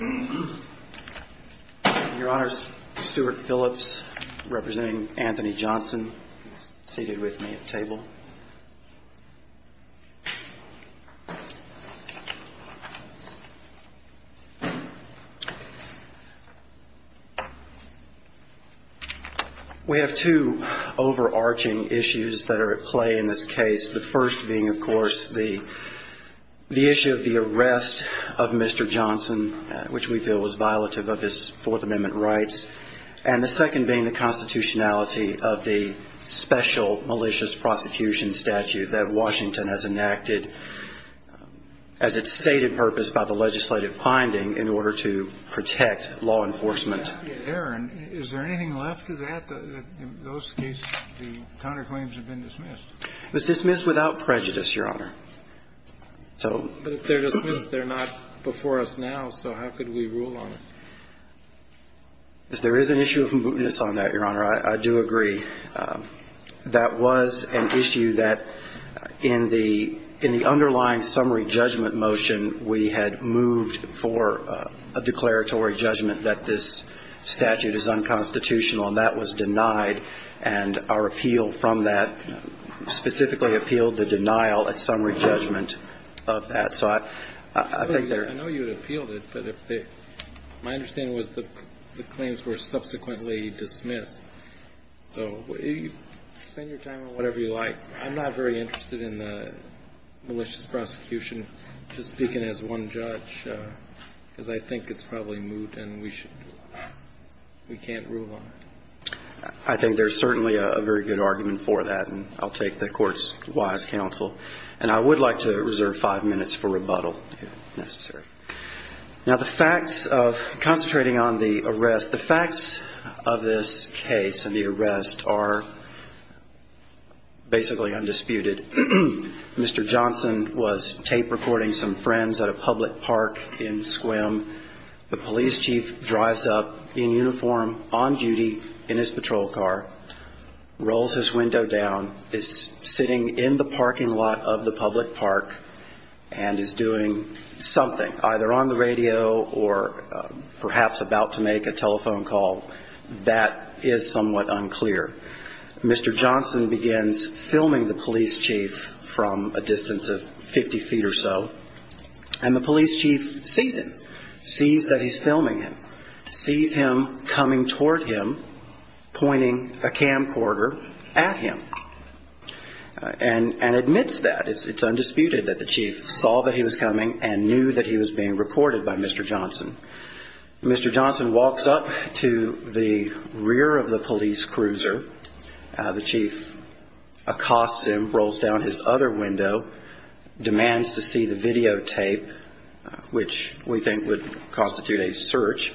Your Honor, Stuart Phillips, representing Anthony Johnson, seated with me at the table. We have two overarching issues that are at play in this case. The first being, of course, the issue of the arrest of Mr. Johnson, which we feel was violative of his Fourth Amendment rights. And the second being the constitutionality of the special malicious prosecution statute that Washington has enacted as its stated purpose by the legislative finding in order to protect law enforcement. And the third issue is that there is an issue of mootness on that, Your Honor. I do agree. That was an issue that in the underlying summary judgment motion we had moved for a declaratory judgment that this statute is unconstitutional. And that was denied. And our appeal from that specifically appealed the denial at summary judgment of that. So I think there are – I know you had appealed it, but if they – my understanding was the claims were subsequently dismissed. So spend your time on whatever you like. I'm not very interested in the malicious prosecution, just speaking as one judge, because I think it's probably moot and we should – we can't rule on it. I think there's certainly a very good argument for that. And I'll take the Court's wise counsel. And I would like to reserve five minutes for rebuttal, if necessary. Now, the facts of – concentrating on the arrest, the facts of this case and the arrest are basically undisputed. Mr. Johnson was tape recording some friends at a public park in Sequim. The police chief drives up in uniform, on duty, in his patrol car, rolls his window down, is sitting in the parking lot of the public park, and is doing something, either on the radio or perhaps about to make a telephone call. That is somewhat unclear. Mr. Johnson begins filming the police chief from a distance of 50 feet or so, and the police chief sees him, sees that he's filming him, sees him coming toward him, pointing a camcorder at him, and admits that. It's undisputed that the chief saw that he was coming and knew that he was being recorded by Mr. Johnson. Mr. Johnson walks up to the rear of the police cruiser. The chief accosts him, rolls down his other window, demands to see the videotape, which we think would constitute a search.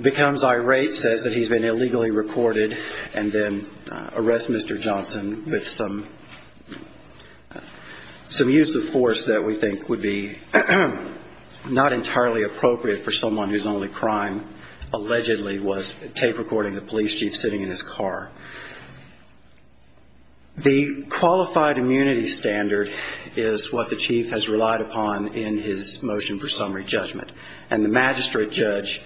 Becomes irate, says that he's been illegally recorded, and then arrests Mr. Johnson with some use of force that we think would be, not entirely appropriate for someone whose only crime, allegedly, was tape recording the police chief sitting in his car. The qualified immunity standard is what the chief has relied upon in his motion for summary judgment, and the magistrate judge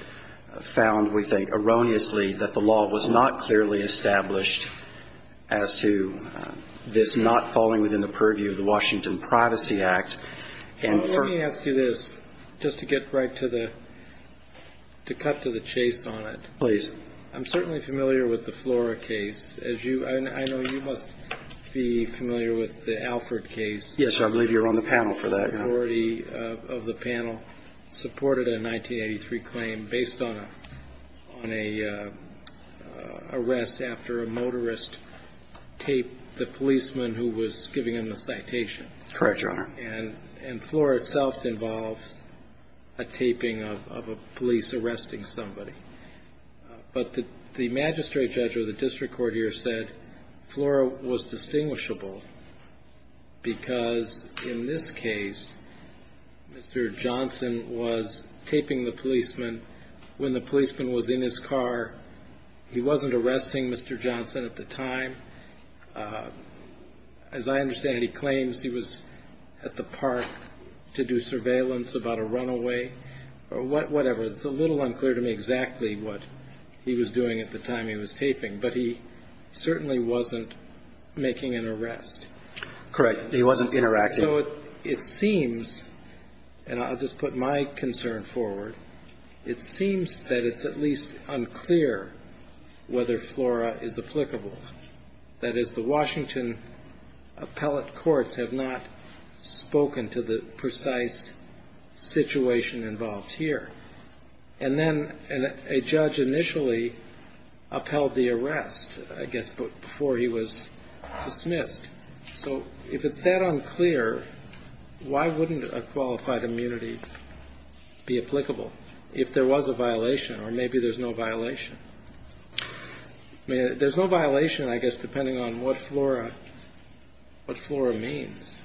found, we think, erroneously that the law was not clearly established as to this not falling within the purview of the Washington Privacy Act, and for... Let me ask you this, just to get right to the, to cut to the chase on it. Please. I'm certainly familiar with the Flora case, as you, and I know you must be familiar with the Alford case. Yes, I believe you're on the panel for that. The majority of the panel supported a 1983 claim based on a, on a arrest after a motorist taped the policeman who was giving him a citation. Correct, Your Honor. And, and Flora itself involved a taping of, of a police arresting somebody. But the, the magistrate judge or the district court here said Flora was distinguishable because in this case, Mr. Johnson was taping the policeman when the policeman was in his car. He wasn't arresting Mr. Johnson at the time. As I understand it, he claims he was at the park to do surveillance about a runaway or what, whatever. It's a little unclear to me exactly what he was doing at the time he was taping, but he certainly wasn't making an arrest. Correct. He wasn't interacting. So it, it seems, and I'll just put my concern forward, it seems that it's at least unclear whether Flora is applicable. That is, the Washington appellate courts have not spoken to the precise situation involved here. And then a judge initially upheld the arrest, I guess, before he was dismissed. So if it's that unclear, why wouldn't a qualified immunity be, be applicable if there was a violation or maybe there's no violation? I mean, there's no violation, I guess, depending on what Flora, what Flora means.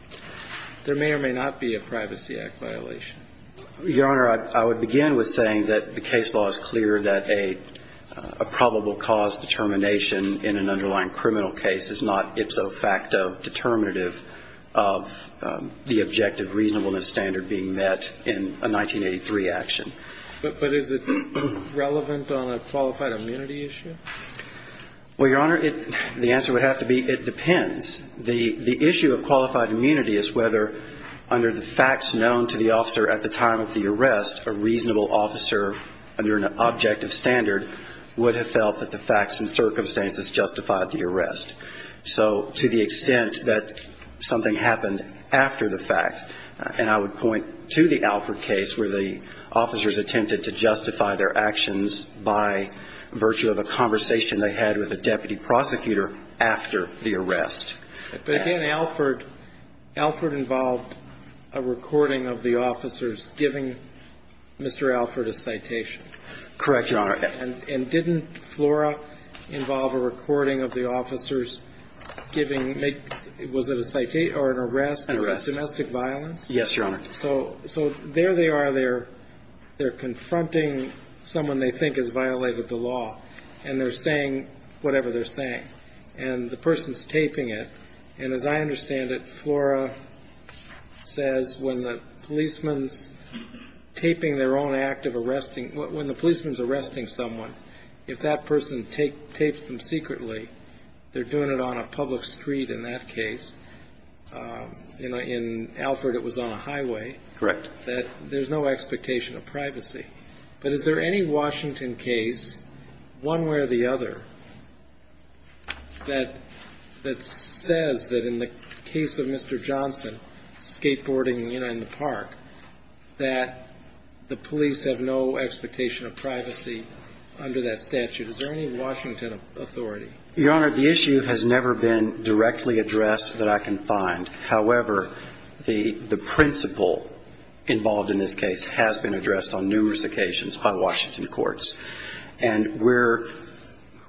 There may or may not be a Privacy Act violation. Your Honor, I, I would begin with saying that the case law is clear that a, a probable cause determination in an underlying criminal case is not ipso facto determinative of the objective reasonableness standard being met in a 1983 action. But, but is it relevant on a qualified immunity issue? Well, Your Honor, it, the answer would have to be it depends. The, the issue of qualified immunity is whether under the facts known to the officer at the time of the arrest, a reasonable officer under an objective standard would have felt that the facts and circumstances justified the arrest. So to the extent that something happened after the fact, and I would point to the Alford case where the officers attempted to justify their actions by virtue of a conversation they had with a deputy prosecutor after the arrest. But again, Alford, Alford involved a recording of the officers giving Mr. Alford a citation. Correct, Your Honor. Was it a citation or an arrest? An arrest. Domestic violence? Yes, Your Honor. So, so there they are, they're, they're confronting someone they think has violated the law, and they're saying whatever they're saying. And the person's taping it. And as I understand it, Flora says when the policeman's taping their own act of arresting, when the policeman's arresting someone, if that person tapes them secretly, they're doing it on a public street in that case. You know, in Alford, it was on a highway. Correct. That there's no expectation of privacy. But is there any Washington case, one way or the other, that, that says that in the case of Mr. Johnson, skateboarding, you know, in the park, that the police have no expectation of privacy under that statute? Is there any Washington authority? Your Honor, the issue has never been directly addressed that I can find. However, the, the principle involved in this case has been addressed on numerous occasions by Washington courts. And we're,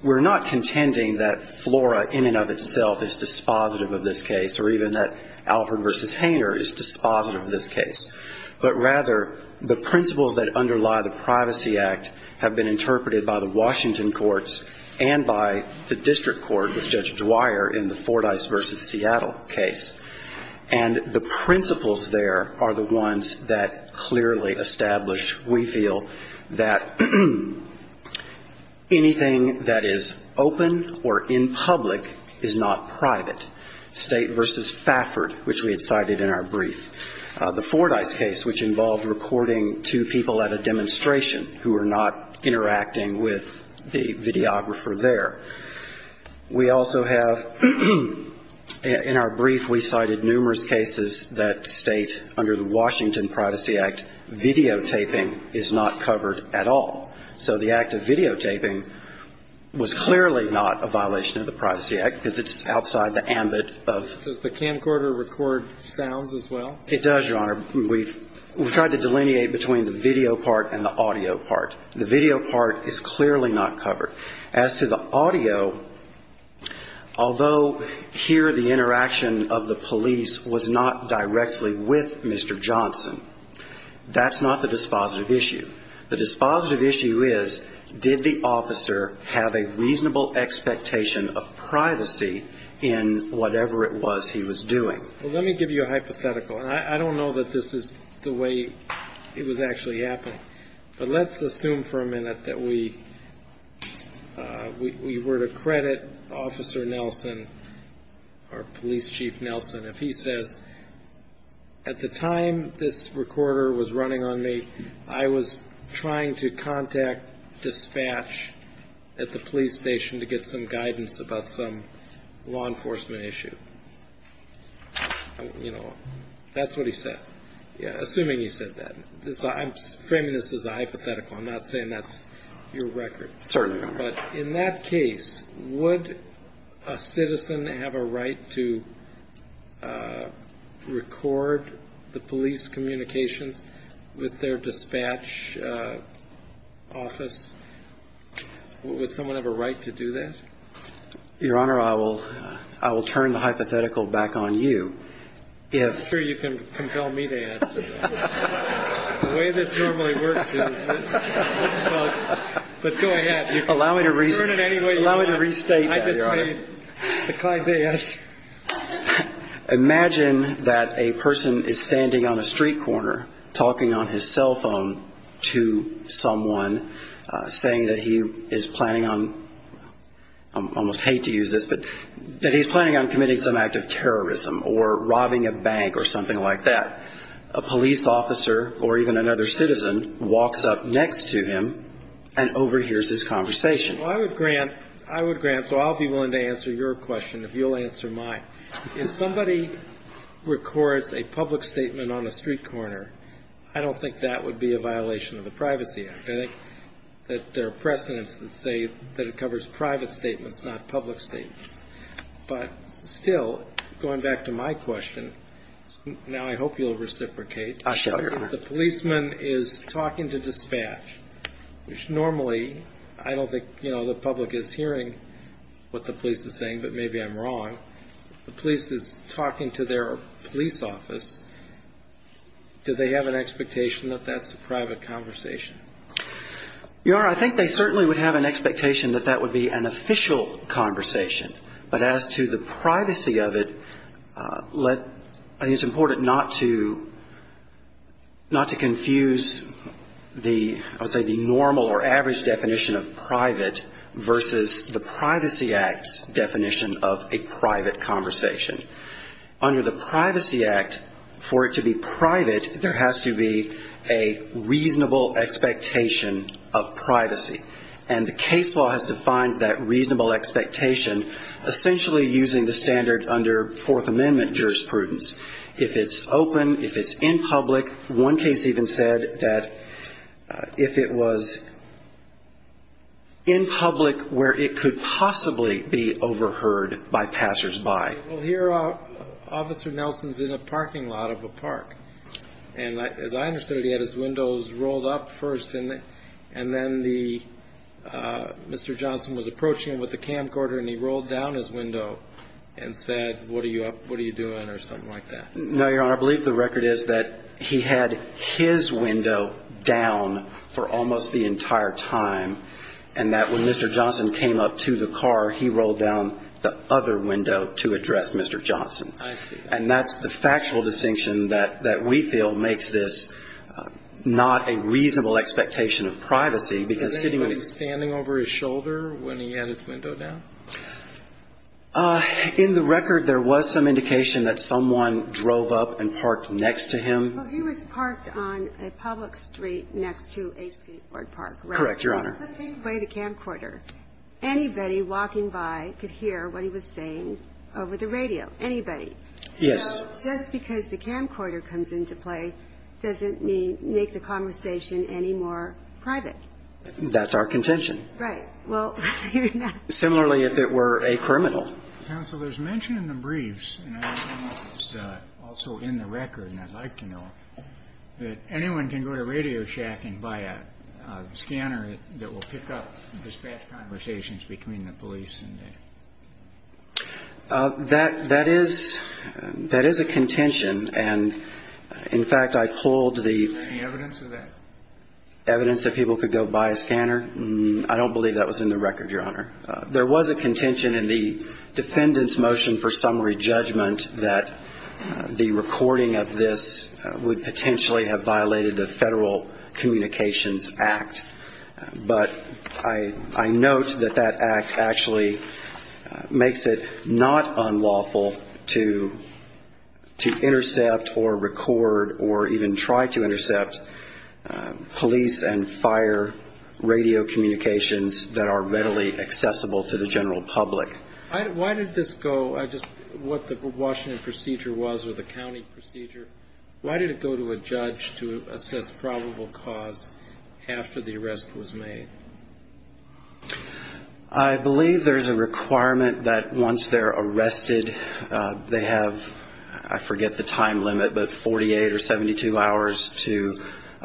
we're not contending that Flora in and of itself is dispositive of this case, or even that Alford v. Hainer is dispositive of this case. But rather, the principles that underlie the Privacy Act have been interpreted by the Washington courts and by the district court with Judge Dwyer in the Fordyce v. Seattle case. And the principles there are the ones that clearly establish, we feel, that anything that is open or in public is not private. State v. Fafford, which we had cited in our brief. The Fordyce case, which involved reporting to people at a demonstration who were not interacting with the videographer there. We also have, in our brief, we cited numerous cases that state, under the Washington Privacy Act, videotaping is not covered at all. So the act of videotaping was clearly not a violation of the Privacy Act because it's outside the ambit of. Does the camcorder record sounds as well? It does, Your Honor. We've tried to delineate between the video part and the audio part. The video part is clearly not covered. As to the audio, although here the interaction of the police was not directly with Mr. Johnson, that's not the dispositive issue is, did the officer have a reasonable expectation of privacy in whatever it was he was doing? Well, let me give you a hypothetical. And I don't know that this is the way it was actually happened. But let's assume for a minute that we were to credit Officer Nelson, or Police Chief Nelson, if he says, at the time this recorder was running on me, I was trying to contact dispatch at the police station to get some guidance about some law enforcement issue. You know, that's what he says. Assuming he said that. I'm framing this as a hypothetical. I'm not saying that's your record. Certainly not. But in that case, would a citizen have a right to record the police communications with their dispatch office? Would someone have a right to do that? Your Honor, I will turn the hypothetical back on you. I'm sure you can compel me to answer that. The way this normally works is... But go ahead. Allow me to restate that, Your Honor. I just made the kind of answer. Imagine that a person is standing on a street corner, talking on his cell phone to someone, saying that he is planning on, I almost hate to use this, but that he's planning on committing some act of terrorism or robbing a bank or something like that. A police officer or even another citizen walks up next to him and overhears this conversation. Well, I would grant, I would grant, so I'll be willing to answer your question if you'll answer my question. If somebody records a public statement on a street corner, I don't think that would be a violation of the Privacy Act. I think that there are precedents that say that it covers private statements, not public statements. But still, going back to my question, now I hope you'll reciprocate. I shall, Your Honor. If the policeman is talking to dispatch, which normally I don't think the public is hearing what the police is saying, but maybe I'm wrong, the police is talking to their police office, do they have an expectation that that's a private conversation? Your Honor, I think they certainly would have an expectation that that would be an official conversation. But as to the privacy of it, let, I think it's important not to, not to confuse the, I would say the normal or average definition of private versus the Privacy Act's definition of a private conversation. Under the Privacy Act, for it to be private, there has to be a reasonable expectation of privacy. And the case law has defined that reasonable expectation essentially using the standard under Fourth Amendment jurisprudence. If it's open, if it's in public, one case even said that if it was in public where it could possibly be overheard by passers-by. Well, here Officer Nelson's in a parking lot of a park. And as I understood it, he had his windows rolled up first, and then the, Mr. Johnson was approaching him with a camcorder and he rolled down his window and said, what are you up, what are you doing, or something like that. No, Your Honor, I believe the record is that he had his window down for almost the entire time, and that when Mr. Johnson came up to the car, he rolled down the other window to address Mr. Johnson. I see. And that's the factual distinction that, that we feel makes this not a reasonable expectation of privacy, because sitting on his shoulder when he had his window down? In the record, there was some indication that someone drove up and parked next to him. Well, he was parked on a public street next to a skateboard park, right? Correct, Your Honor. The same way the camcorder. Anybody walking by could hear what he was saying over the radio. Anybody. Yes. So just because the camcorder comes into play doesn't make the conversation any more private. That's our contention. Right. Well, you're not. Similarly, if it were a criminal. Counsel, there's mention in the briefs, and it's also in the record, and I'd like to know, that anyone can go to Radio Shack and buy a scanner that will pick up dispatch conversations between the police and the... That, that is, that is a contention, and in fact, I pulled the... The evidence of that? Evidence that people could go buy a scanner? I don't believe that was in the record, Your Honor. There was a contention in the defendant's motion for summary judgment that the recording of this would potentially have violated the Federal Communications Act, but I, I note that that act actually makes it not unlawful to, to intercept or record or even try to intercept police and fire radio communications that are readily accessible to the general public. I, why did this go, I just, what the Washington procedure was, or the county procedure, why did it go to a judge to assess probable cause after the arrest was made? I believe there's a requirement that once they're arrested, they have, I forget the time limit, but 48 or 72 hours to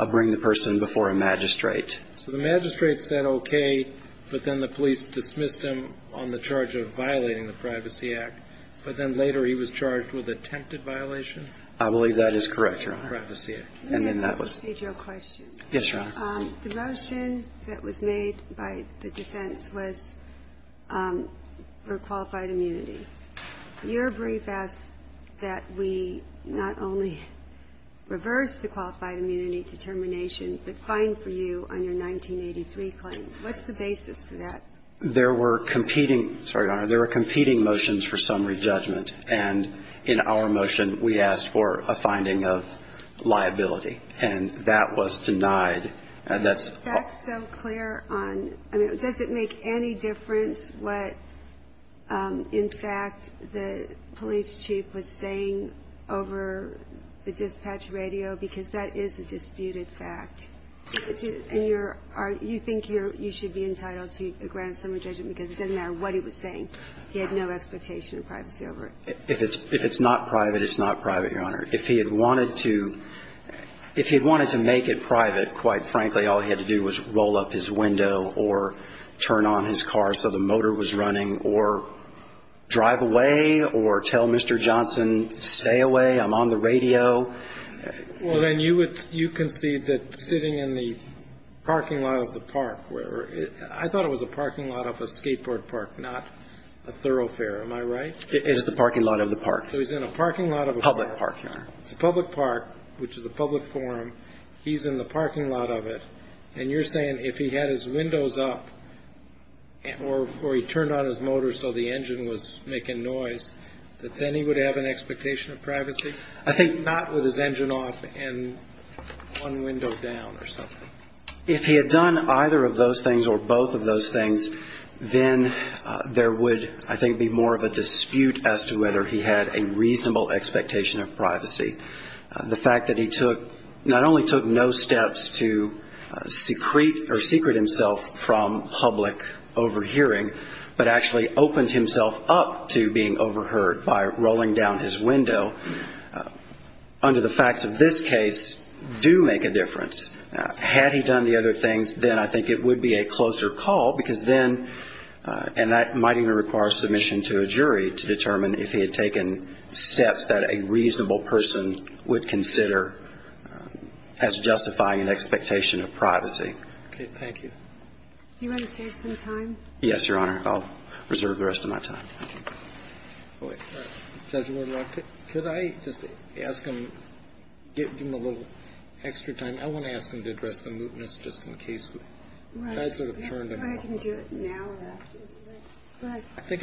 bring the person before a magistrate. So the magistrate said okay, but then the police dismissed him on the charge of violating the Privacy Act, but then later he was charged with attempted violation? I believe that is correct, Your Honor. Privacy Act. And then that was... Let me ask a procedural question. Yes, Your Honor. The motion that was made by the defense was for qualified immunity. Your brief asked that we not only reverse the qualified immunity determination, but fine for you on your 1983 claim. What's the basis for that? There were competing, sorry, Your Honor, there were competing motions for summary judgment. And in our motion, we asked for a finding of liability. And that was denied. And that's... That's so clear on, I mean, does it make any difference what, in fact, the police chief was saying over the dispatch radio? Because that is a disputed fact. And you're, Your Honor, you're entitled to a grant of summary judgment because it doesn't matter what he was saying. He had no expectation of privacy over it. If it's not private, it's not private, Your Honor. If he had wanted to make it private, quite frankly, all he had to do was roll up his window or turn on his car so the motor was running or drive away or tell Mr. Johnson, stay away, I'm on the radio. Well, then you would, you concede that sitting in the parking lot of the park, I thought it was a parking lot of a skateboard park, not a thoroughfare. Am I right? It is the parking lot of the park. So he's in a parking lot of a park. Public park, Your Honor. It's a public park, which is a public forum. He's in the parking lot of it. And you're saying if he had his windows up or he turned on his motor so the engine was making noise, that then he would have an expectation of privacy? I think not with his engine off and one window down or something. If he had done either of those things or both of those things, then there would, I think, be more of a dispute as to whether he had a reasonable expectation of privacy. The fact that he took, not only took no steps to secrete or secret himself from public overhearing, but actually opened himself up to being overheard by rolling down his window, under the facts of this case, do make a difference. Had he done the other things, then I think it would be a closer call, because then, and that might even require submission to a jury to determine if he had taken steps that a reasonable person would consider as justifying an expectation of privacy. Okay. Thank you. Do you want to save some time? Yes, Your Honor. I'll reserve the rest of my time. Judge Woodruff, could I just ask him, give him a little extra time. I want to ask him to address the mootness just in case. Right. I think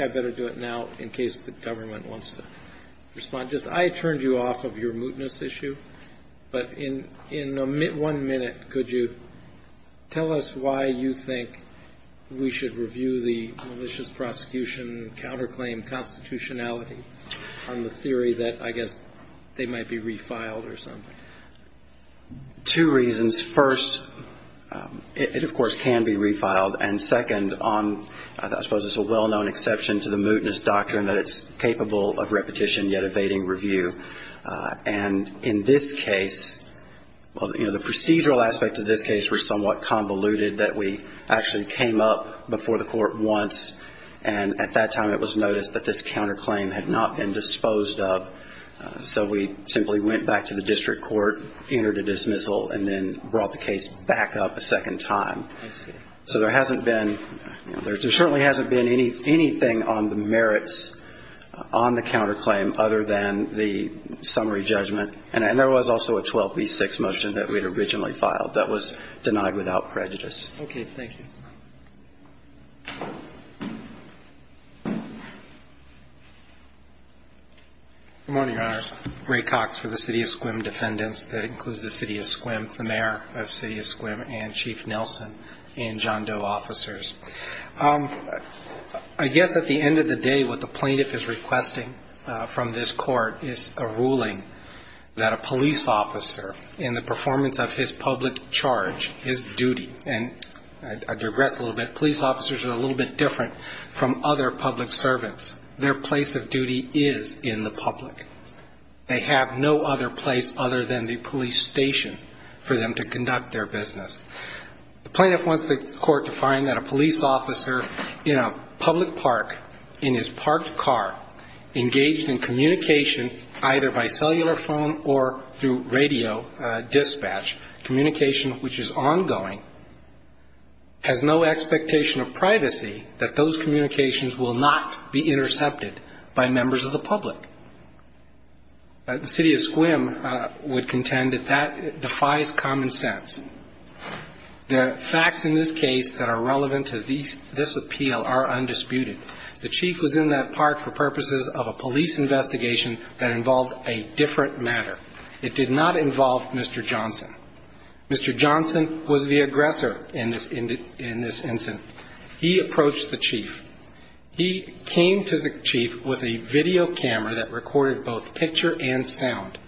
I'd better do it now in case the government wants to respond. I turned you off of your mootness issue, but in one minute, could you tell us why you think we should review the malicious prosecution counterclaim constitutionality on the theory that, I guess, they might be refiled or something? Two reasons. First, it, of course, can be refiled. And second, I suppose it's a well-known exception to the mootness doctrine that it's capable of repetition, yet evading review. And in this case, well, you know, the procedural aspects of this case were somewhat convoluted that we actually came up before the court once, and at that time it was noticed that this counterclaim had not been disposed of. So we simply went back to the district court, entered a dismissal, and then brought the case back up a second time. I see. So there hasn't been, you know, there certainly hasn't been anything on the merits on the counterclaim other than the summary judgment. And there was also a 12B6 motion that we had originally filed that was denied without prejudice. Okay. Thank you. Good morning, Your Honors. Ray Cox for the City of Sequim Defendants. That includes the City of Sequim, the mayor of City of Sequim, and Chief Nelson and John Doe officers. I guess at the end of the day what the plaintiff is requesting from this court is a ruling that a police officer in the performance of his public charge, his duty, and I digress a little bit, police officers are a little bit different from other public servants. Their place of duty is in the public. They have no other place other than the police station for them to conduct their business. The plaintiff wants the court to find that a police officer in a public park, in his parked car, engaged in communication either by cellular phone or through radio dispatch, communication which is ongoing, has no expectation of privacy, that those communications will not be intercepted by members of the public. The City of Sequim would contend that that defies common sense. The facts in this case that are relevant to this appeal are undisputed. The chief was in that park for purposes of a police investigation that involved a different matter. It did not involve Mr. Johnson. Mr. Johnson was the aggressor in this incident. He approached the chief. He came to the chief with a video camera that recorded both picture and sound.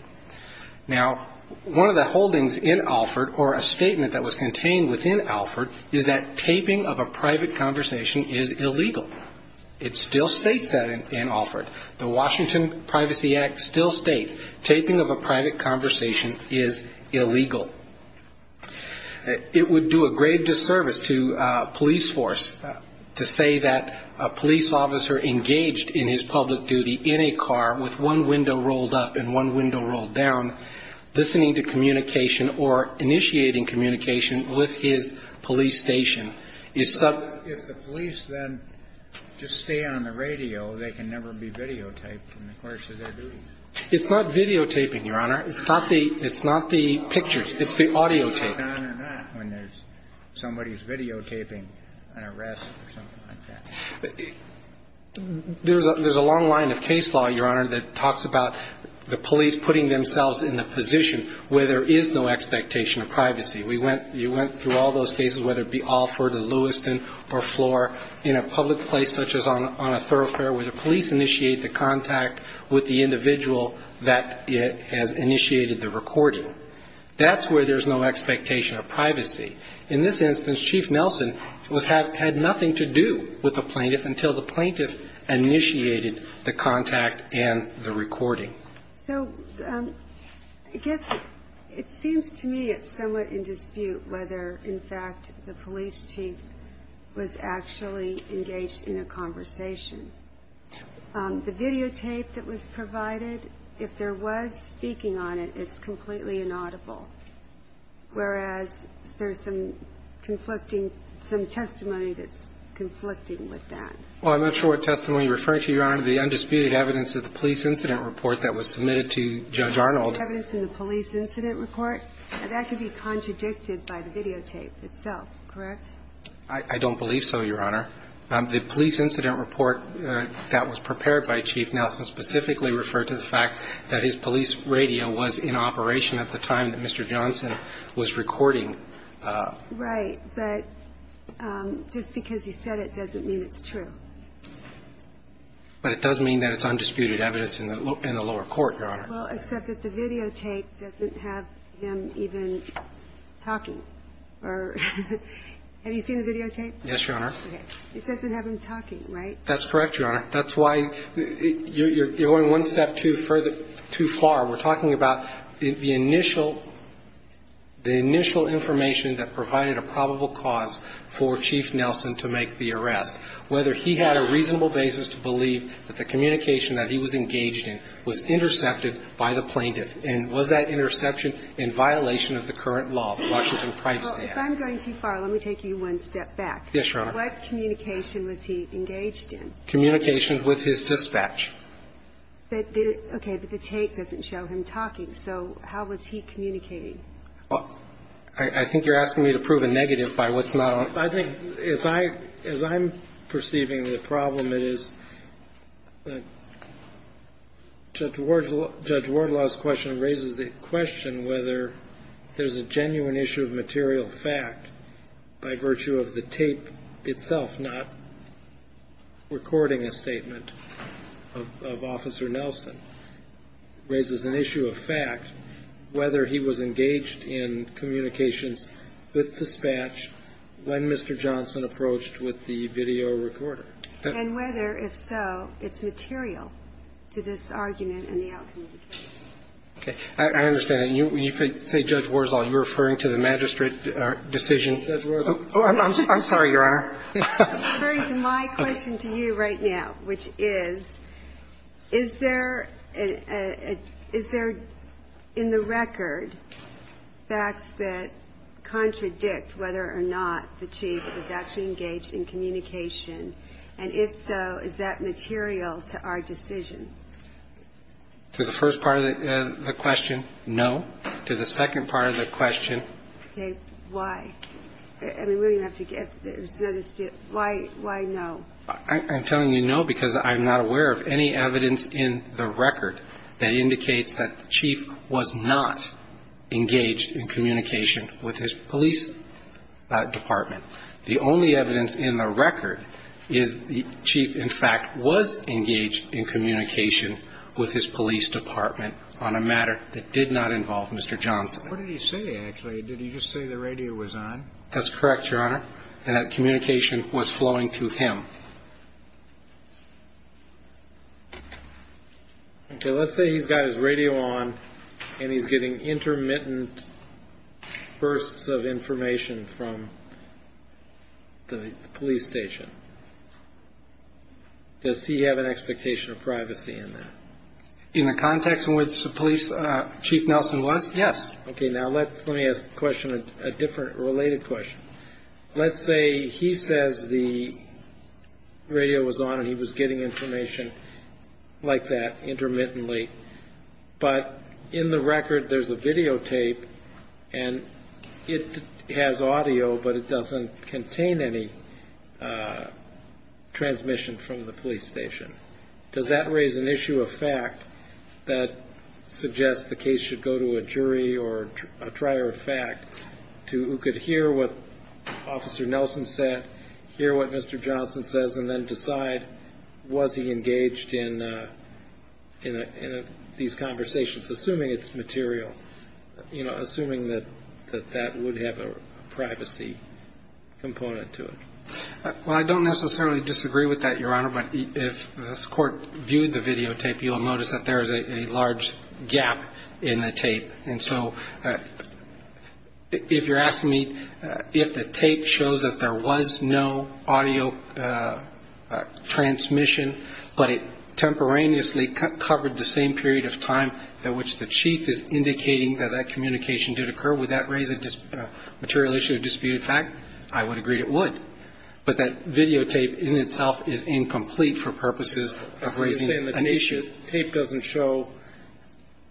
Now, one of the holdings in Alford or a statement that was contained within Alford is that taping of a private conversation is illegal. It still states that in Alford. The Washington Privacy Act still states taping of a private conversation is illegal. It would do a great disservice to a police force to say that a police officer engaged in his public duty in a car with one window rolled up and one window rolled down, listening to communication or initiating communication with his police station. It's some of the police then just stay on the radio. They can never be videotaped in the course of their duties. It's not videotaping, Your Honor. It's not the pictures. It's the audio tape. What's going on in that when there's somebody who's videotaping an arrest or something like that? There's a long line of case law, Your Honor, that talks about the police putting themselves in a position where there is no expectation of privacy. You went through all those cases, whether it be Alford or Lewiston or Floor, in a public place such as on a thoroughfare where the police initiate the contact with the individual that has initiated the recording. That's where there's no expectation of privacy. In this instance, Chief Nelson had nothing to do with the plaintiff until the plaintiff initiated the contact and the recording. So I guess it seems to me it's somewhat in dispute whether, in fact, the police chief was actually engaged in a conversation. The videotape that was provided, if there was speaking on it, it's completely inaudible, whereas there's some conflicting – some testimony that's conflicting with that. Well, I'm not sure what testimony you're referring to, Your Honor. The undisputed evidence of the police incident report that was submitted to Judge Arnold. The evidence in the police incident report? That could be contradicted by the videotape itself, correct? I don't believe so, Your Honor. The police incident report that was prepared by Chief Nelson specifically referred to the fact that his police radio was in operation at the time that Mr. Johnson was recording. Right. But just because he said it doesn't mean it's true. But it does mean that it's undisputed evidence in the lower court, Your Honor. Well, except that the videotape doesn't have him even talking. Have you seen the videotape? Yes, Your Honor. It doesn't have him talking, right? That's correct, Your Honor. That's why you're going one step too far. We're talking about the initial information that provided a probable cause for Chief Nelson to make the arrest, whether he had a reasonable basis to believe that the communication that he was engaged in was intercepted by the plaintiff. And was that interception in violation of the current law, the Washington Price Act? If I'm going too far, let me take you one step back. Yes, Your Honor. What communication was he engaged in? Communication with his dispatch. Okay. But the tape doesn't show him talking. So how was he communicating? I think you're asking me to prove a negative by what's not on it. I think as I'm perceiving the problem, it is Judge Wardlaw's question raises the question whether there's a genuine issue of material fact by virtue of the tape itself, not recording a statement of Officer Nelson. It raises an issue of fact whether he was engaged in communications with dispatch when Mr. Johnson approached with the video recorder. And whether, if so, it's material to this argument in the outcome of the case. Okay. I understand that. When you say Judge Wardlaw, you're referring to the magistrate decision. Judge Wardlaw. Oh, I'm sorry, Your Honor. It's referring to my question to you right now, which is, is there in the record facts that contradict whether or not the chief was actually engaged in communication, and if so, is that material to our decision? To the first part of the question, no. To the second part of the question. Okay. Why? I mean, we're going to have to get to the dispute. Why no? I'm telling you no because I'm not aware of any evidence in the record that indicates that the chief was not engaged in communication with his police department. The only evidence in the record is the chief, in fact, was engaged in communication with his police department on a matter that did not involve Mr. Johnson. What did he say, actually? Did he just say the radio was on? That's correct, Your Honor. And that communication was flowing through him. Okay. Let's say he's got his radio on and he's getting intermittent bursts of information from the police station. Does he have an expectation of privacy in that? In the context in which the police chief Nelson was, yes. Okay. Now let me ask the question a different related question. Let's say he says the radio was on and he was getting information like that intermittently, but in the record there's a videotape and it has audio, but it doesn't contain any transmission from the police station. Does that raise an issue of fact that suggests the case should go to a jury or a trier of fact who could hear what Officer Nelson said, hear what Mr. Johnson says, and then decide was he engaged in these conversations, assuming it's material, assuming that that would have a privacy component to it? Well, I don't necessarily disagree with that, Your Honor, but if this Court viewed the videotape, you'll notice that there is a large gap in the tape. And so if you're asking me if the tape shows that there was no audio transmission, but it temporaneously covered the same period of time in which the chief is indicating that that communication did occur, would that raise a material issue of disputed fact? I would agree it would. But that videotape in itself is incomplete for purposes of raising an issue. The videotape doesn't show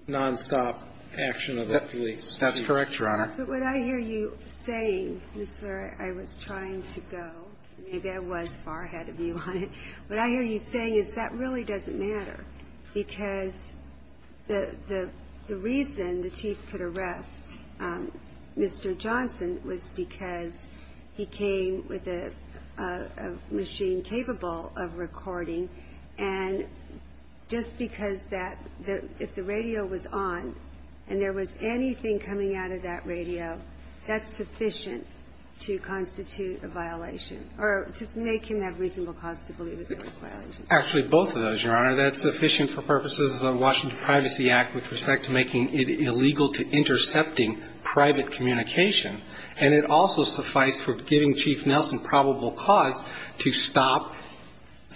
nonstop action of the police. That's correct, Your Honor. But what I hear you saying is where I was trying to go. Maybe I was far ahead of you on it. What I hear you saying is that really doesn't matter because the reason the chief could arrest Mr. Johnson was because he came with a machine capable of recording and just because that if the radio was on and there was anything coming out of that radio, that's sufficient to constitute a violation or to make him have reasonable cause to believe that there was a violation. Actually, both of those, Your Honor. That's sufficient for purposes of the Washington Privacy Act with respect to making it illegal to intercepting private communication. And it also suffice for giving Chief Nelson probable cause to stop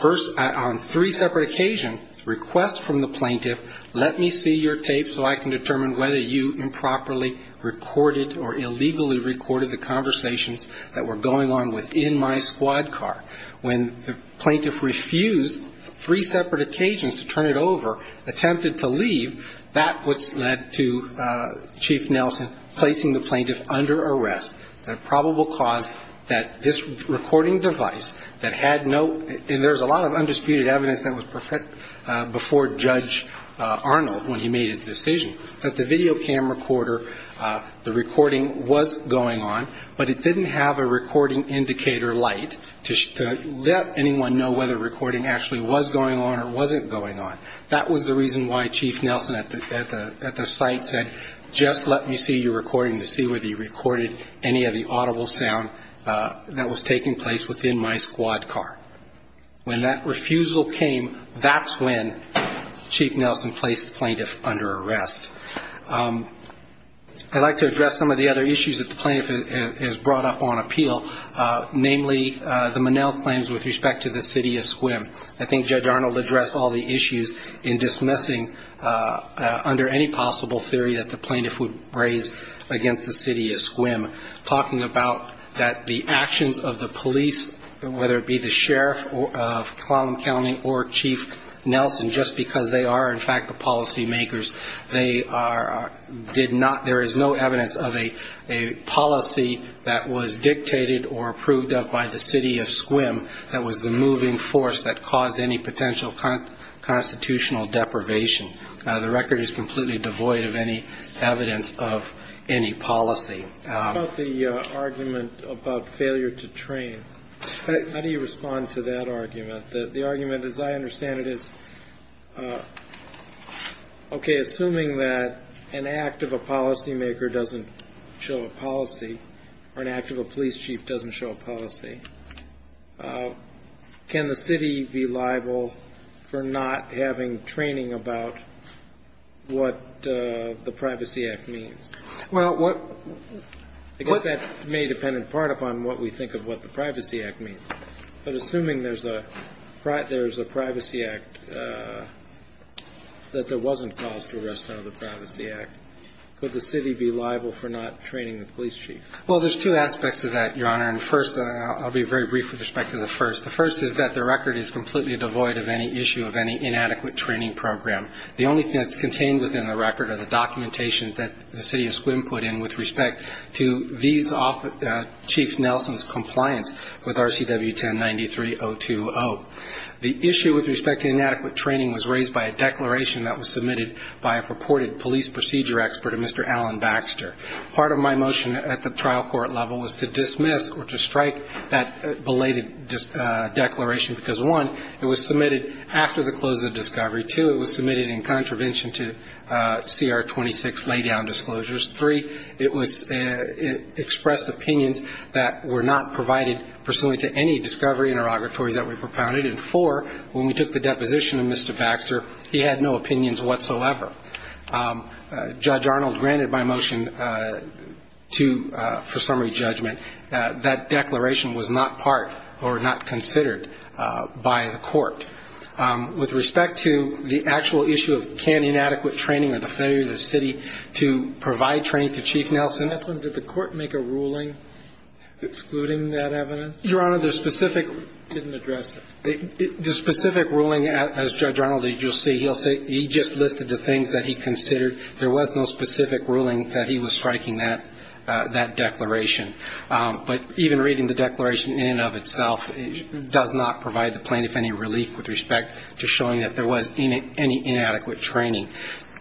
on three separate occasions, request from the plaintiff, let me see your tape so I can determine whether you improperly recorded or illegally recorded the conversations that were going on within my squad car. When the plaintiff refused three separate occasions to turn it over, attempted to leave, that was led to Chief Nelson placing the plaintiff under arrest. The probable cause that this recording device that had no, and there's a lot of undisputed evidence that was before Judge Arnold when he made his decision, that the video camera recorder, the recording was going on, but it didn't have a recording indicator light to let anyone know whether recording actually was going on or wasn't going on. That was the reason why Chief Nelson at the site said, just let me see your recording to see whether you recorded any of the audible sound that was taking place within my squad car. When that refusal came, that's when Chief Nelson placed the plaintiff under arrest. I'd like to address some of the other issues that the plaintiff has brought up on appeal, namely the Monell claims with respect to the city of Sequim. I think Judge Arnold addressed all the issues in dismissing under any possible theory that the plaintiff would raise against the city of Sequim, talking about that the actions of the police, whether it be the sheriff of Clallam County or Chief Nelson, just because they are, in fact, the policymakers, there is no evidence of a policy that was dictated or approved of by the city of Sequim that was the moving force that caused any potential constitutional deprivation. The record is completely devoid of any evidence of any policy. What about the argument about failure to train? How do you respond to that argument? The argument, as I understand it, is, okay, assuming that an act of a policymaker doesn't show a policy or an act of a police chief doesn't show a policy, can the city be liable for not having training about what the Privacy Act means? Well, what ñ I guess that may depend in part upon what we think of what the Privacy Act means, but assuming there's a Privacy Act, that there wasn't cause to arrest under the Privacy Act, could the city be liable for not training the police chief? Well, there's two aspects of that, Your Honor, and first I'll be very brief with respect to the first. The first is that the record is completely devoid of any issue of any inadequate training program. The only thing that's contained within the record are the documentations that the city of Sequim put in with respect to these Chief Nelson's compliance with RCW 1093.020. The issue with respect to inadequate training was raised by a declaration that was submitted by a purported police procedure expert, a Mr. Alan Baxter. Part of my motion at the trial court level was to dismiss or to strike that belated declaration because, one, it was submitted after the close of discovery. Two, it was submitted in contravention to CR 26 laydown disclosures. Three, it was ñ it expressed opinions that were not provided pursuant to any discovery interrogatories that we propounded. And four, when we took the deposition of Mr. Baxter, he had no opinions whatsoever. Judge Arnold granted my motion to ñ for summary judgment. That declaration was not part or not considered by the court. With respect to the actual issue of can inadequate training or the failure of the city to provide training to Chief Nelson. Did the court make a ruling excluding that evidence? Your Honor, the specific ñ Didnít address it. The specific ruling, as Judge Arnold, as youíll see, heíll say ñ he just listed the things that he considered. There was no specific ruling that he was striking that ñ that declaration. But even reading the declaration in and of itself does not provide the plaintiff any relief with respect to showing that there was any inadequate training.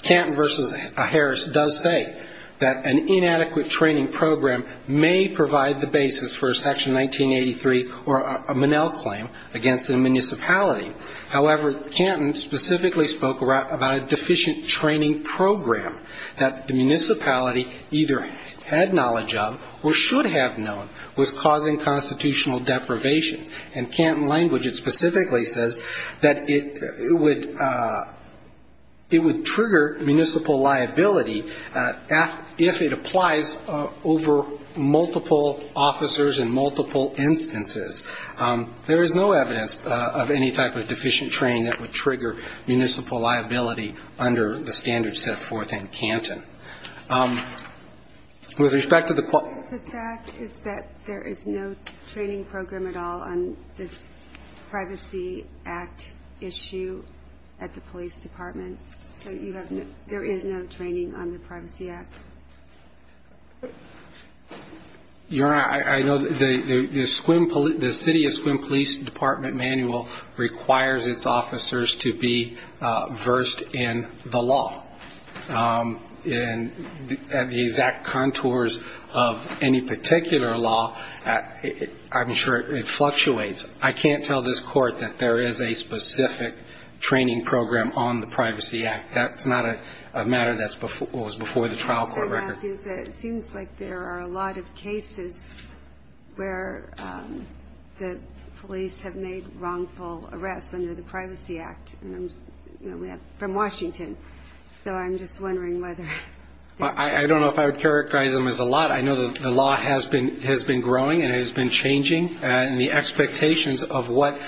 Canton v. Harris does say that an inadequate training program may provide the basis for a section 1983 or a Monell claim against the municipality. However, Canton specifically spoke about a deficient training program that the municipality either had knowledge of or should have known was causing constitutional deprivation. And Canton language, it specifically says that it would ñ it would trigger municipal liability if it applies over multiple officers in multiple instances. There is no evidence of any type of deficient training that would trigger municipal liability under the standards set forth in Canton. With respect to the ñ The fact is that there is no training program at all on this Privacy Act issue at the police department. So you have no ñ there is no training on the Privacy Act. Your Honor, I know the ñ the city of Sequim Police Department manual requires its officers to be versed in the law. And at the exact contours of any particular law, I'm sure it fluctuates. I can't tell this Court that there is a specific training program on the Privacy Act. That's not a matter that's ñ that was before the trial court record. The thing to ask is that it seems like there are a lot of cases where the police have made wrongful arrests under the Privacy Act. And, you know, we have from Washington. So I'm just wondering whether ñ I don't know if I would characterize them as a lot. I know the law has been ñ has been growing and has been changing. And the expectations of what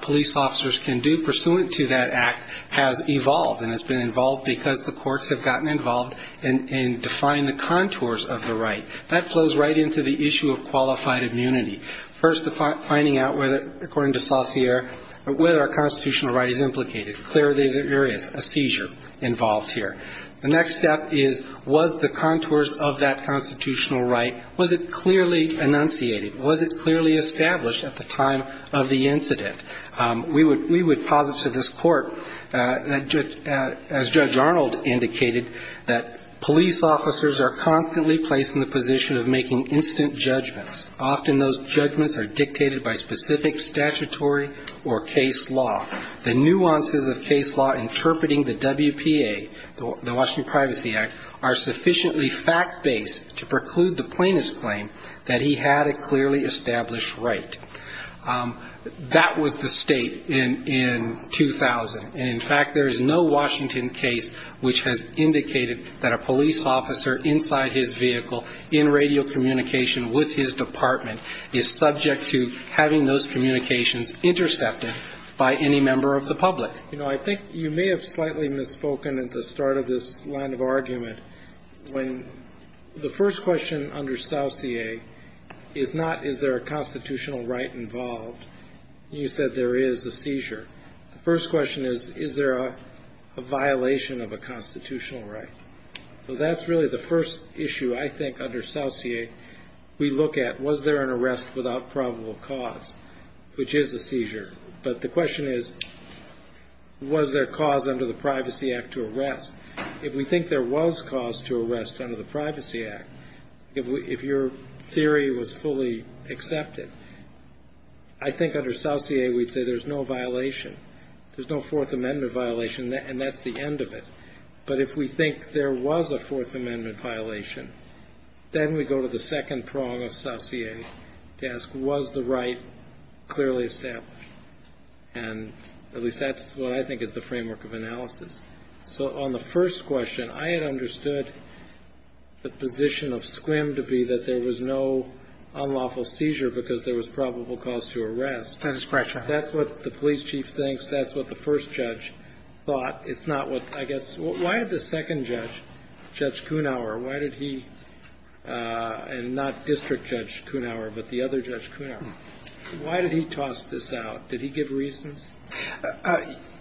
police officers can do pursuant to that act has evolved and has been involved because the courts have gotten involved in defining the contours of the right. That flows right into the issue of qualified immunity. First, the finding out whether ñ according to Saussure, whether a constitutional right is implicated. Clear are the other areas. A seizure involved here. The next step is, was the contours of that constitutional right ñ was it clearly enunciated? Was it clearly established at the time of the incident? We would ñ we would posit to this Court that, as Judge Arnold indicated, that police officers are constantly placed in the position of making instant judgments. Often those judgments are dictated by specific statutory or case law. The nuances of case law interpreting the WPA, the Washington Privacy Act, are sufficiently fact-based to preclude the plaintiff's claim that he had a clearly established right. That was the state in ñ in 2000. And, in fact, there is no Washington case which has indicated that a police officer inside his vehicle, in radio communication with his department, is subject to having those communications intercepted by any member of the public. You know, I think you may have slightly misspoken at the start of this line of argument, when the first question under Saussure is not, is there a constitutional right involved? You said there is a seizure. The first question is, is there a violation of a constitutional right? So that's really the first issue I think under Saussure we look at. Was there an arrest without probable cause, which is a seizure? But the question is, was there cause under the Privacy Act to arrest? If we think there was cause to arrest under the Privacy Act, if your theory was fully accepted, I think under Saussure we'd say there's no violation. There's no Fourth Amendment violation, and that's the end of it. But if we think there was a Fourth Amendment violation, then we go to the second prong of Saussure to ask, was the right clearly established? And at least that's what I think is the framework of analysis. So on the first question, I had understood the position of Scrimm to be that there was no unlawful seizure because there was probable cause to arrest. That is correct, Your Honor. That's what the police chief thinks. That's what the first judge thought. It's not what, I guess, why did the second judge, Judge Kunauer, why did he, and not District Judge Kunauer, but the other Judge Kunauer, why did he toss this out? Did he give reasons?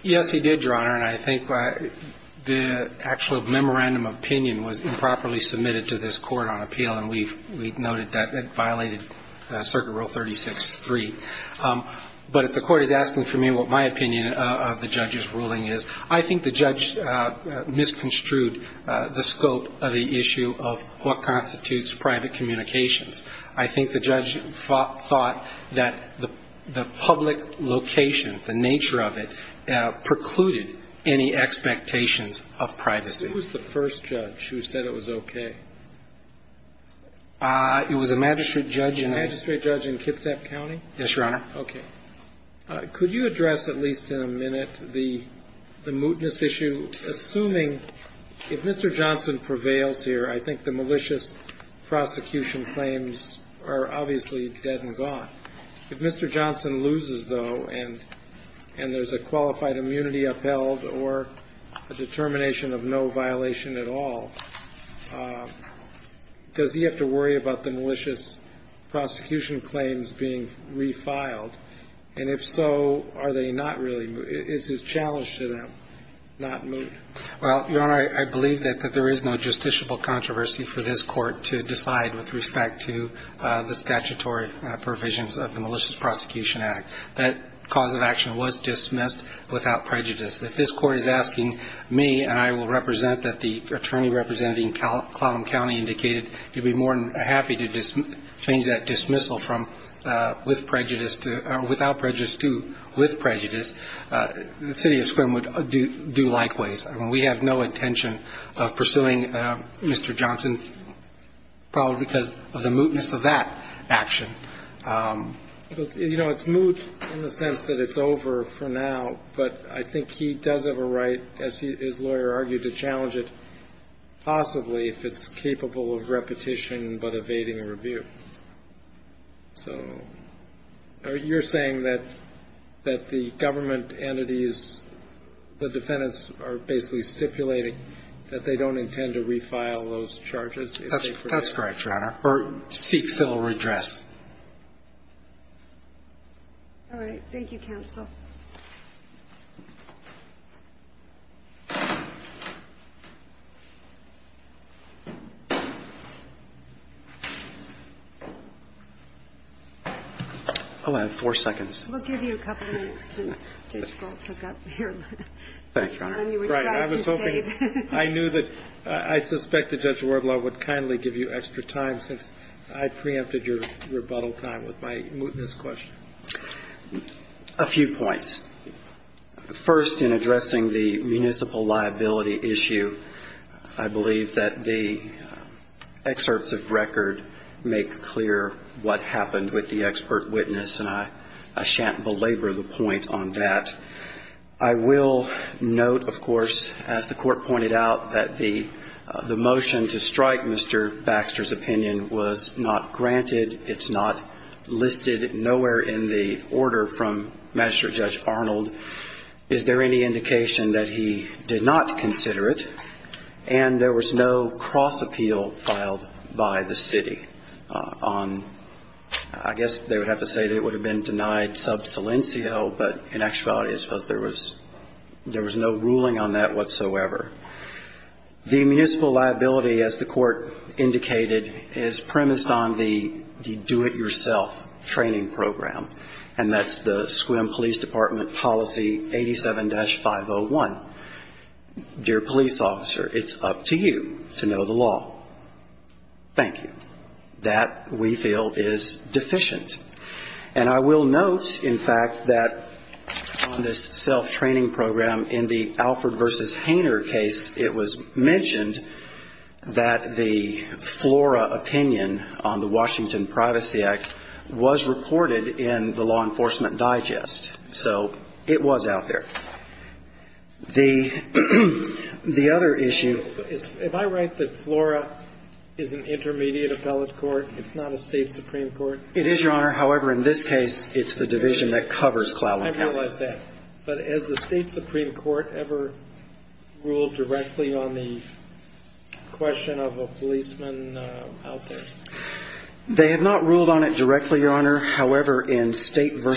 Yes, he did, Your Honor, and I think the actual memorandum of opinion was improperly submitted to this court on appeal, and we've noted that it violated Circuit Rule 36-3. But if the court is asking for me what my opinion of the judge's ruling is, I think the judge misconstrued the scope of the issue of what constitutes private communications. I think the judge thought that the public location, the nature of it, precluded any expectations of privacy. Who was the first judge who said it was okay? It was a magistrate judge. A magistrate judge in Kitsap County? Yes, Your Honor. Okay. Could you address, at least in a minute, the mootness issue? Assuming, if Mr. Johnson prevails here, I think the malicious prosecution claims are obviously dead and gone. If Mr. Johnson loses, though, and there's a qualified immunity upheld or a determination of no violation at all, does he have to worry about the malicious prosecution claims being refiled? And if so, are they not really moot? Is his challenge to them not moot? Well, Your Honor, I believe that there is no justiciable controversy for this Court to decide with respect to the statutory provisions of the Malicious Prosecution Act. That cause of action was dismissed without prejudice. If this Court is asking me, and I will represent that the attorney representing Clallam County indicated he'd be more than happy to change that dismissal from without prejudice to with prejudice, the city of Sequim would do likewise. I mean, we have no intention of pursuing Mr. Johnson probably because of the mootness of that action. You know, it's moot in the sense that it's over for now, but I think he does have a right, as his lawyer argued, to challenge it possibly if it's capable of repetition but evading review. So you're saying that the government entities, the defendants are basically stipulating that they don't intend to refile those charges? That's correct, Your Honor. Or seek civil redress. All right. Thank you, counsel. Hold on. Four seconds. We'll give you a couple minutes since Judge Gold took up your time. Thank you, Your Honor. All right. I was hoping, I knew that, I suspect that Judge Wardlaw would kindly give you extra time since I preempted your rebuttal time with my mootness question. One, I don't think it's a good idea to use the word, First, in addressing the municipal liability issue, I believe that the excerpts of record make clear what happened with the expert witness. And I shan't belabor the point on that. I will note, of course, as the Court pointed out, that the motion to strike Mr. Baxter's opinion was not granted. It's not listed nowhere in the order from Magistrate Judge Arnold. Is there any indication that he did not consider it? And there was no cross-appeal filed by the city on, I guess they would have to say that it would have been denied sub silencio, but in actuality, I suppose there was no ruling on that whatsoever. The municipal liability, as the Court indicated, is premised on the do-it-yourself training program, and that's the Sequim Police Department Policy 87-501. Dear police officer, it's up to you to know the law. Thank you. That, we feel, is deficient. And I will note, in fact, that on this self-training program, in the Alford v. Hainer case, it was mentioned that the Flora opinion on the Washington Privacy Act was reported in the Law Enforcement Digest. So it was out there. The other issue ---- If I write that Flora is an intermediate appellate court, it's not a State supreme court? It is, Your Honor. However, in this case, it's the division that covers Clowen County. I realize that. But has the State supreme court ever ruled directly on the question of a policeman out there? They have not ruled on it directly, Your Honor. However, in State v.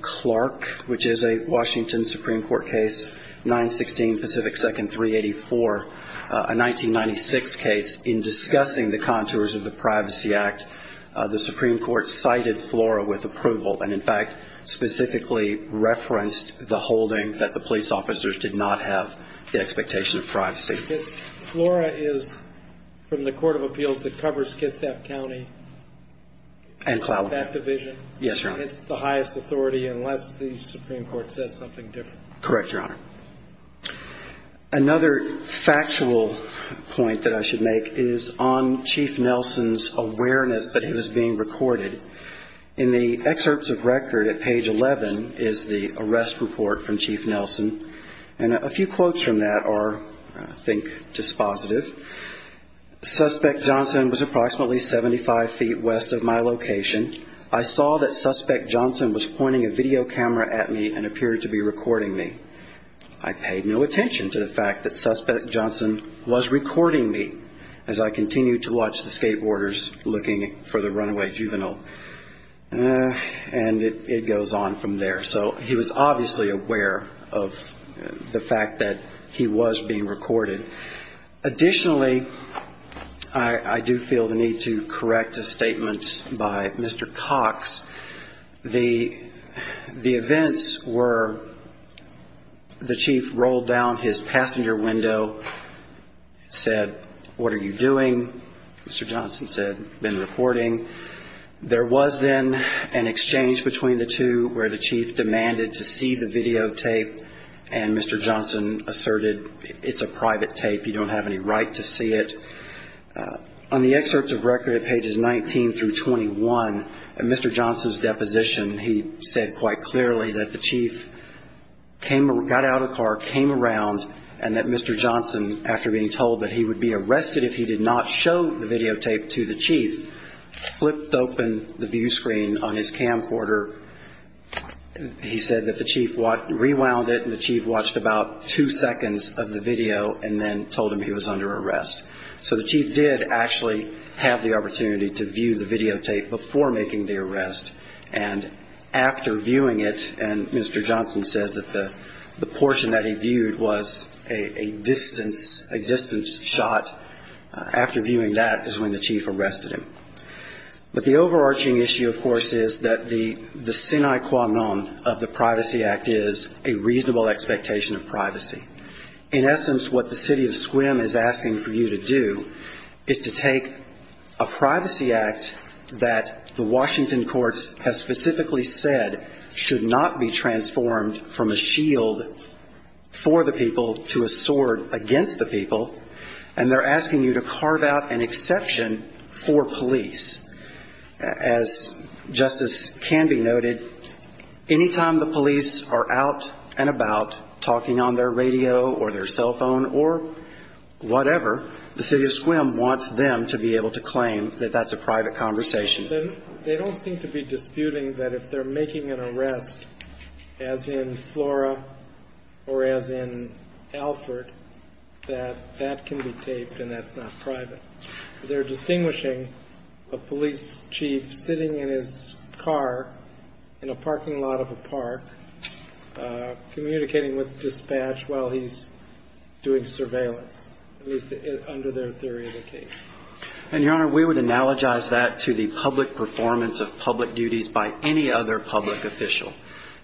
Clark, which is a Washington supreme court case, 916 Pacific 2nd 384, a 1996 case, in discussing the contours of the Privacy Act, the supreme court cited Flora with approval and, in fact, specifically referenced the holding that the police officers did not have the expectation of privacy. Flora is, from the Court of Appeals, that covers Kitsap County? And Clowen County. That division? Yes, Your Honor. It's the highest authority, unless the supreme court says something different? Correct, Your Honor. Another factual point that I should make is on Chief Nelson's awareness that it was being recorded. In the excerpts of record at page 11 is the arrest report from Chief Nelson. And a few quotes from that are, I think, dispositive. Suspect Johnson was approximately 75 feet west of my location. I saw that Suspect Johnson was pointing a video camera at me and appeared to be recording me. I paid no attention to the fact that Suspect Johnson was recording me, as I am a juvenile. And it goes on from there. So he was obviously aware of the fact that he was being recorded. Additionally, I do feel the need to correct a statement by Mr. Cox. The events were the Chief rolled down his passenger window, said, what are you doing? Mr. Johnson said, been recording. There was then an exchange between the two where the Chief demanded to see the videotape, and Mr. Johnson asserted, it's a private tape, you don't have any right to see it. On the excerpts of record at pages 19 through 21, Mr. Johnson's deposition, he said quite clearly that the Chief got out of the car, came around, and that Mr. Johnson showed the videotape to the Chief, flipped open the view screen on his camcorder. He said that the Chief rewound it and the Chief watched about two seconds of the video and then told him he was under arrest. So the Chief did actually have the opportunity to view the videotape before making the arrest, and after viewing it, and Mr. Johnson says that the portion that he was doing that is when the Chief arrested him. But the overarching issue, of course, is that the sine qua non of the Privacy Act is a reasonable expectation of privacy. In essence, what the city of Sequim is asking for you to do is to take a Privacy Act that the Washington courts have specifically said should not be transformed from a shield for the people to a sword against the people, and they're asking you to carve out an exception for police. As justice can be noted, any time the police are out and about talking on their radio or their cell phone or whatever, the city of Sequim wants them to be able to claim that that's a private conversation. They don't seem to be disputing that if they're making an arrest as in Flora or as in private. They're distinguishing a police chief sitting in his car in a parking lot of a park communicating with dispatch while he's doing surveillance, at least under their theory of the case. And, Your Honor, we would analogize that to the public performance of public duties by any other public official.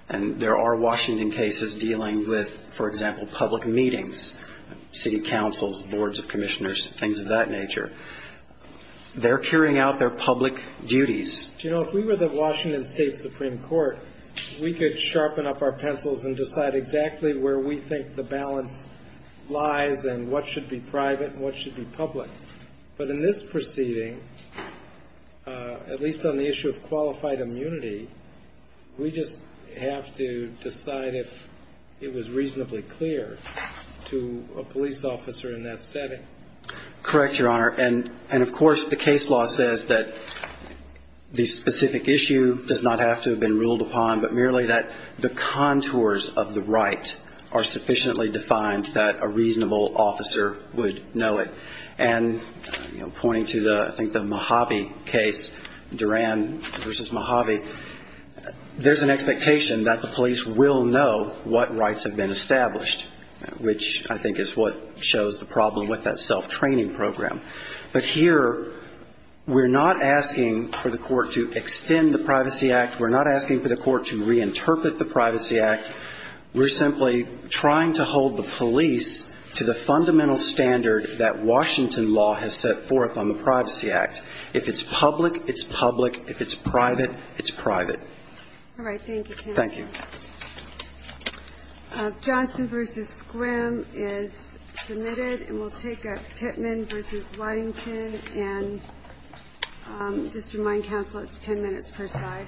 And there are Washington cases dealing with, for example, public meetings, city meetings of that nature. They're carrying out their public duties. Do you know, if we were the Washington State Supreme Court, we could sharpen up our pencils and decide exactly where we think the balance lies and what should be private and what should be public. But in this proceeding, at least on the issue of qualified immunity, we just have to decide if it was reasonably clear to a police officer in that setting. Yes, Your Honor. And, of course, the case law says that the specific issue does not have to have been ruled upon, but merely that the contours of the right are sufficiently defined that a reasonable officer would know it. And, you know, pointing to the, I think the Mojave case, Duran v. Mojave, there's an expectation that the police will know what rights have been established, which I think is what shows the problem with that self-training program. But here we're not asking for the court to extend the Privacy Act. We're not asking for the court to reinterpret the Privacy Act. We're simply trying to hold the police to the fundamental standard that Washington law has set forth on the Privacy Act. If it's public, it's public. If it's private, it's private. All right. Thank you, counsel. Thank you. Johnson v. Squim is submitted. And we'll take a Pittman v. Waddington. And just to remind counsel, it's 10 minutes per side.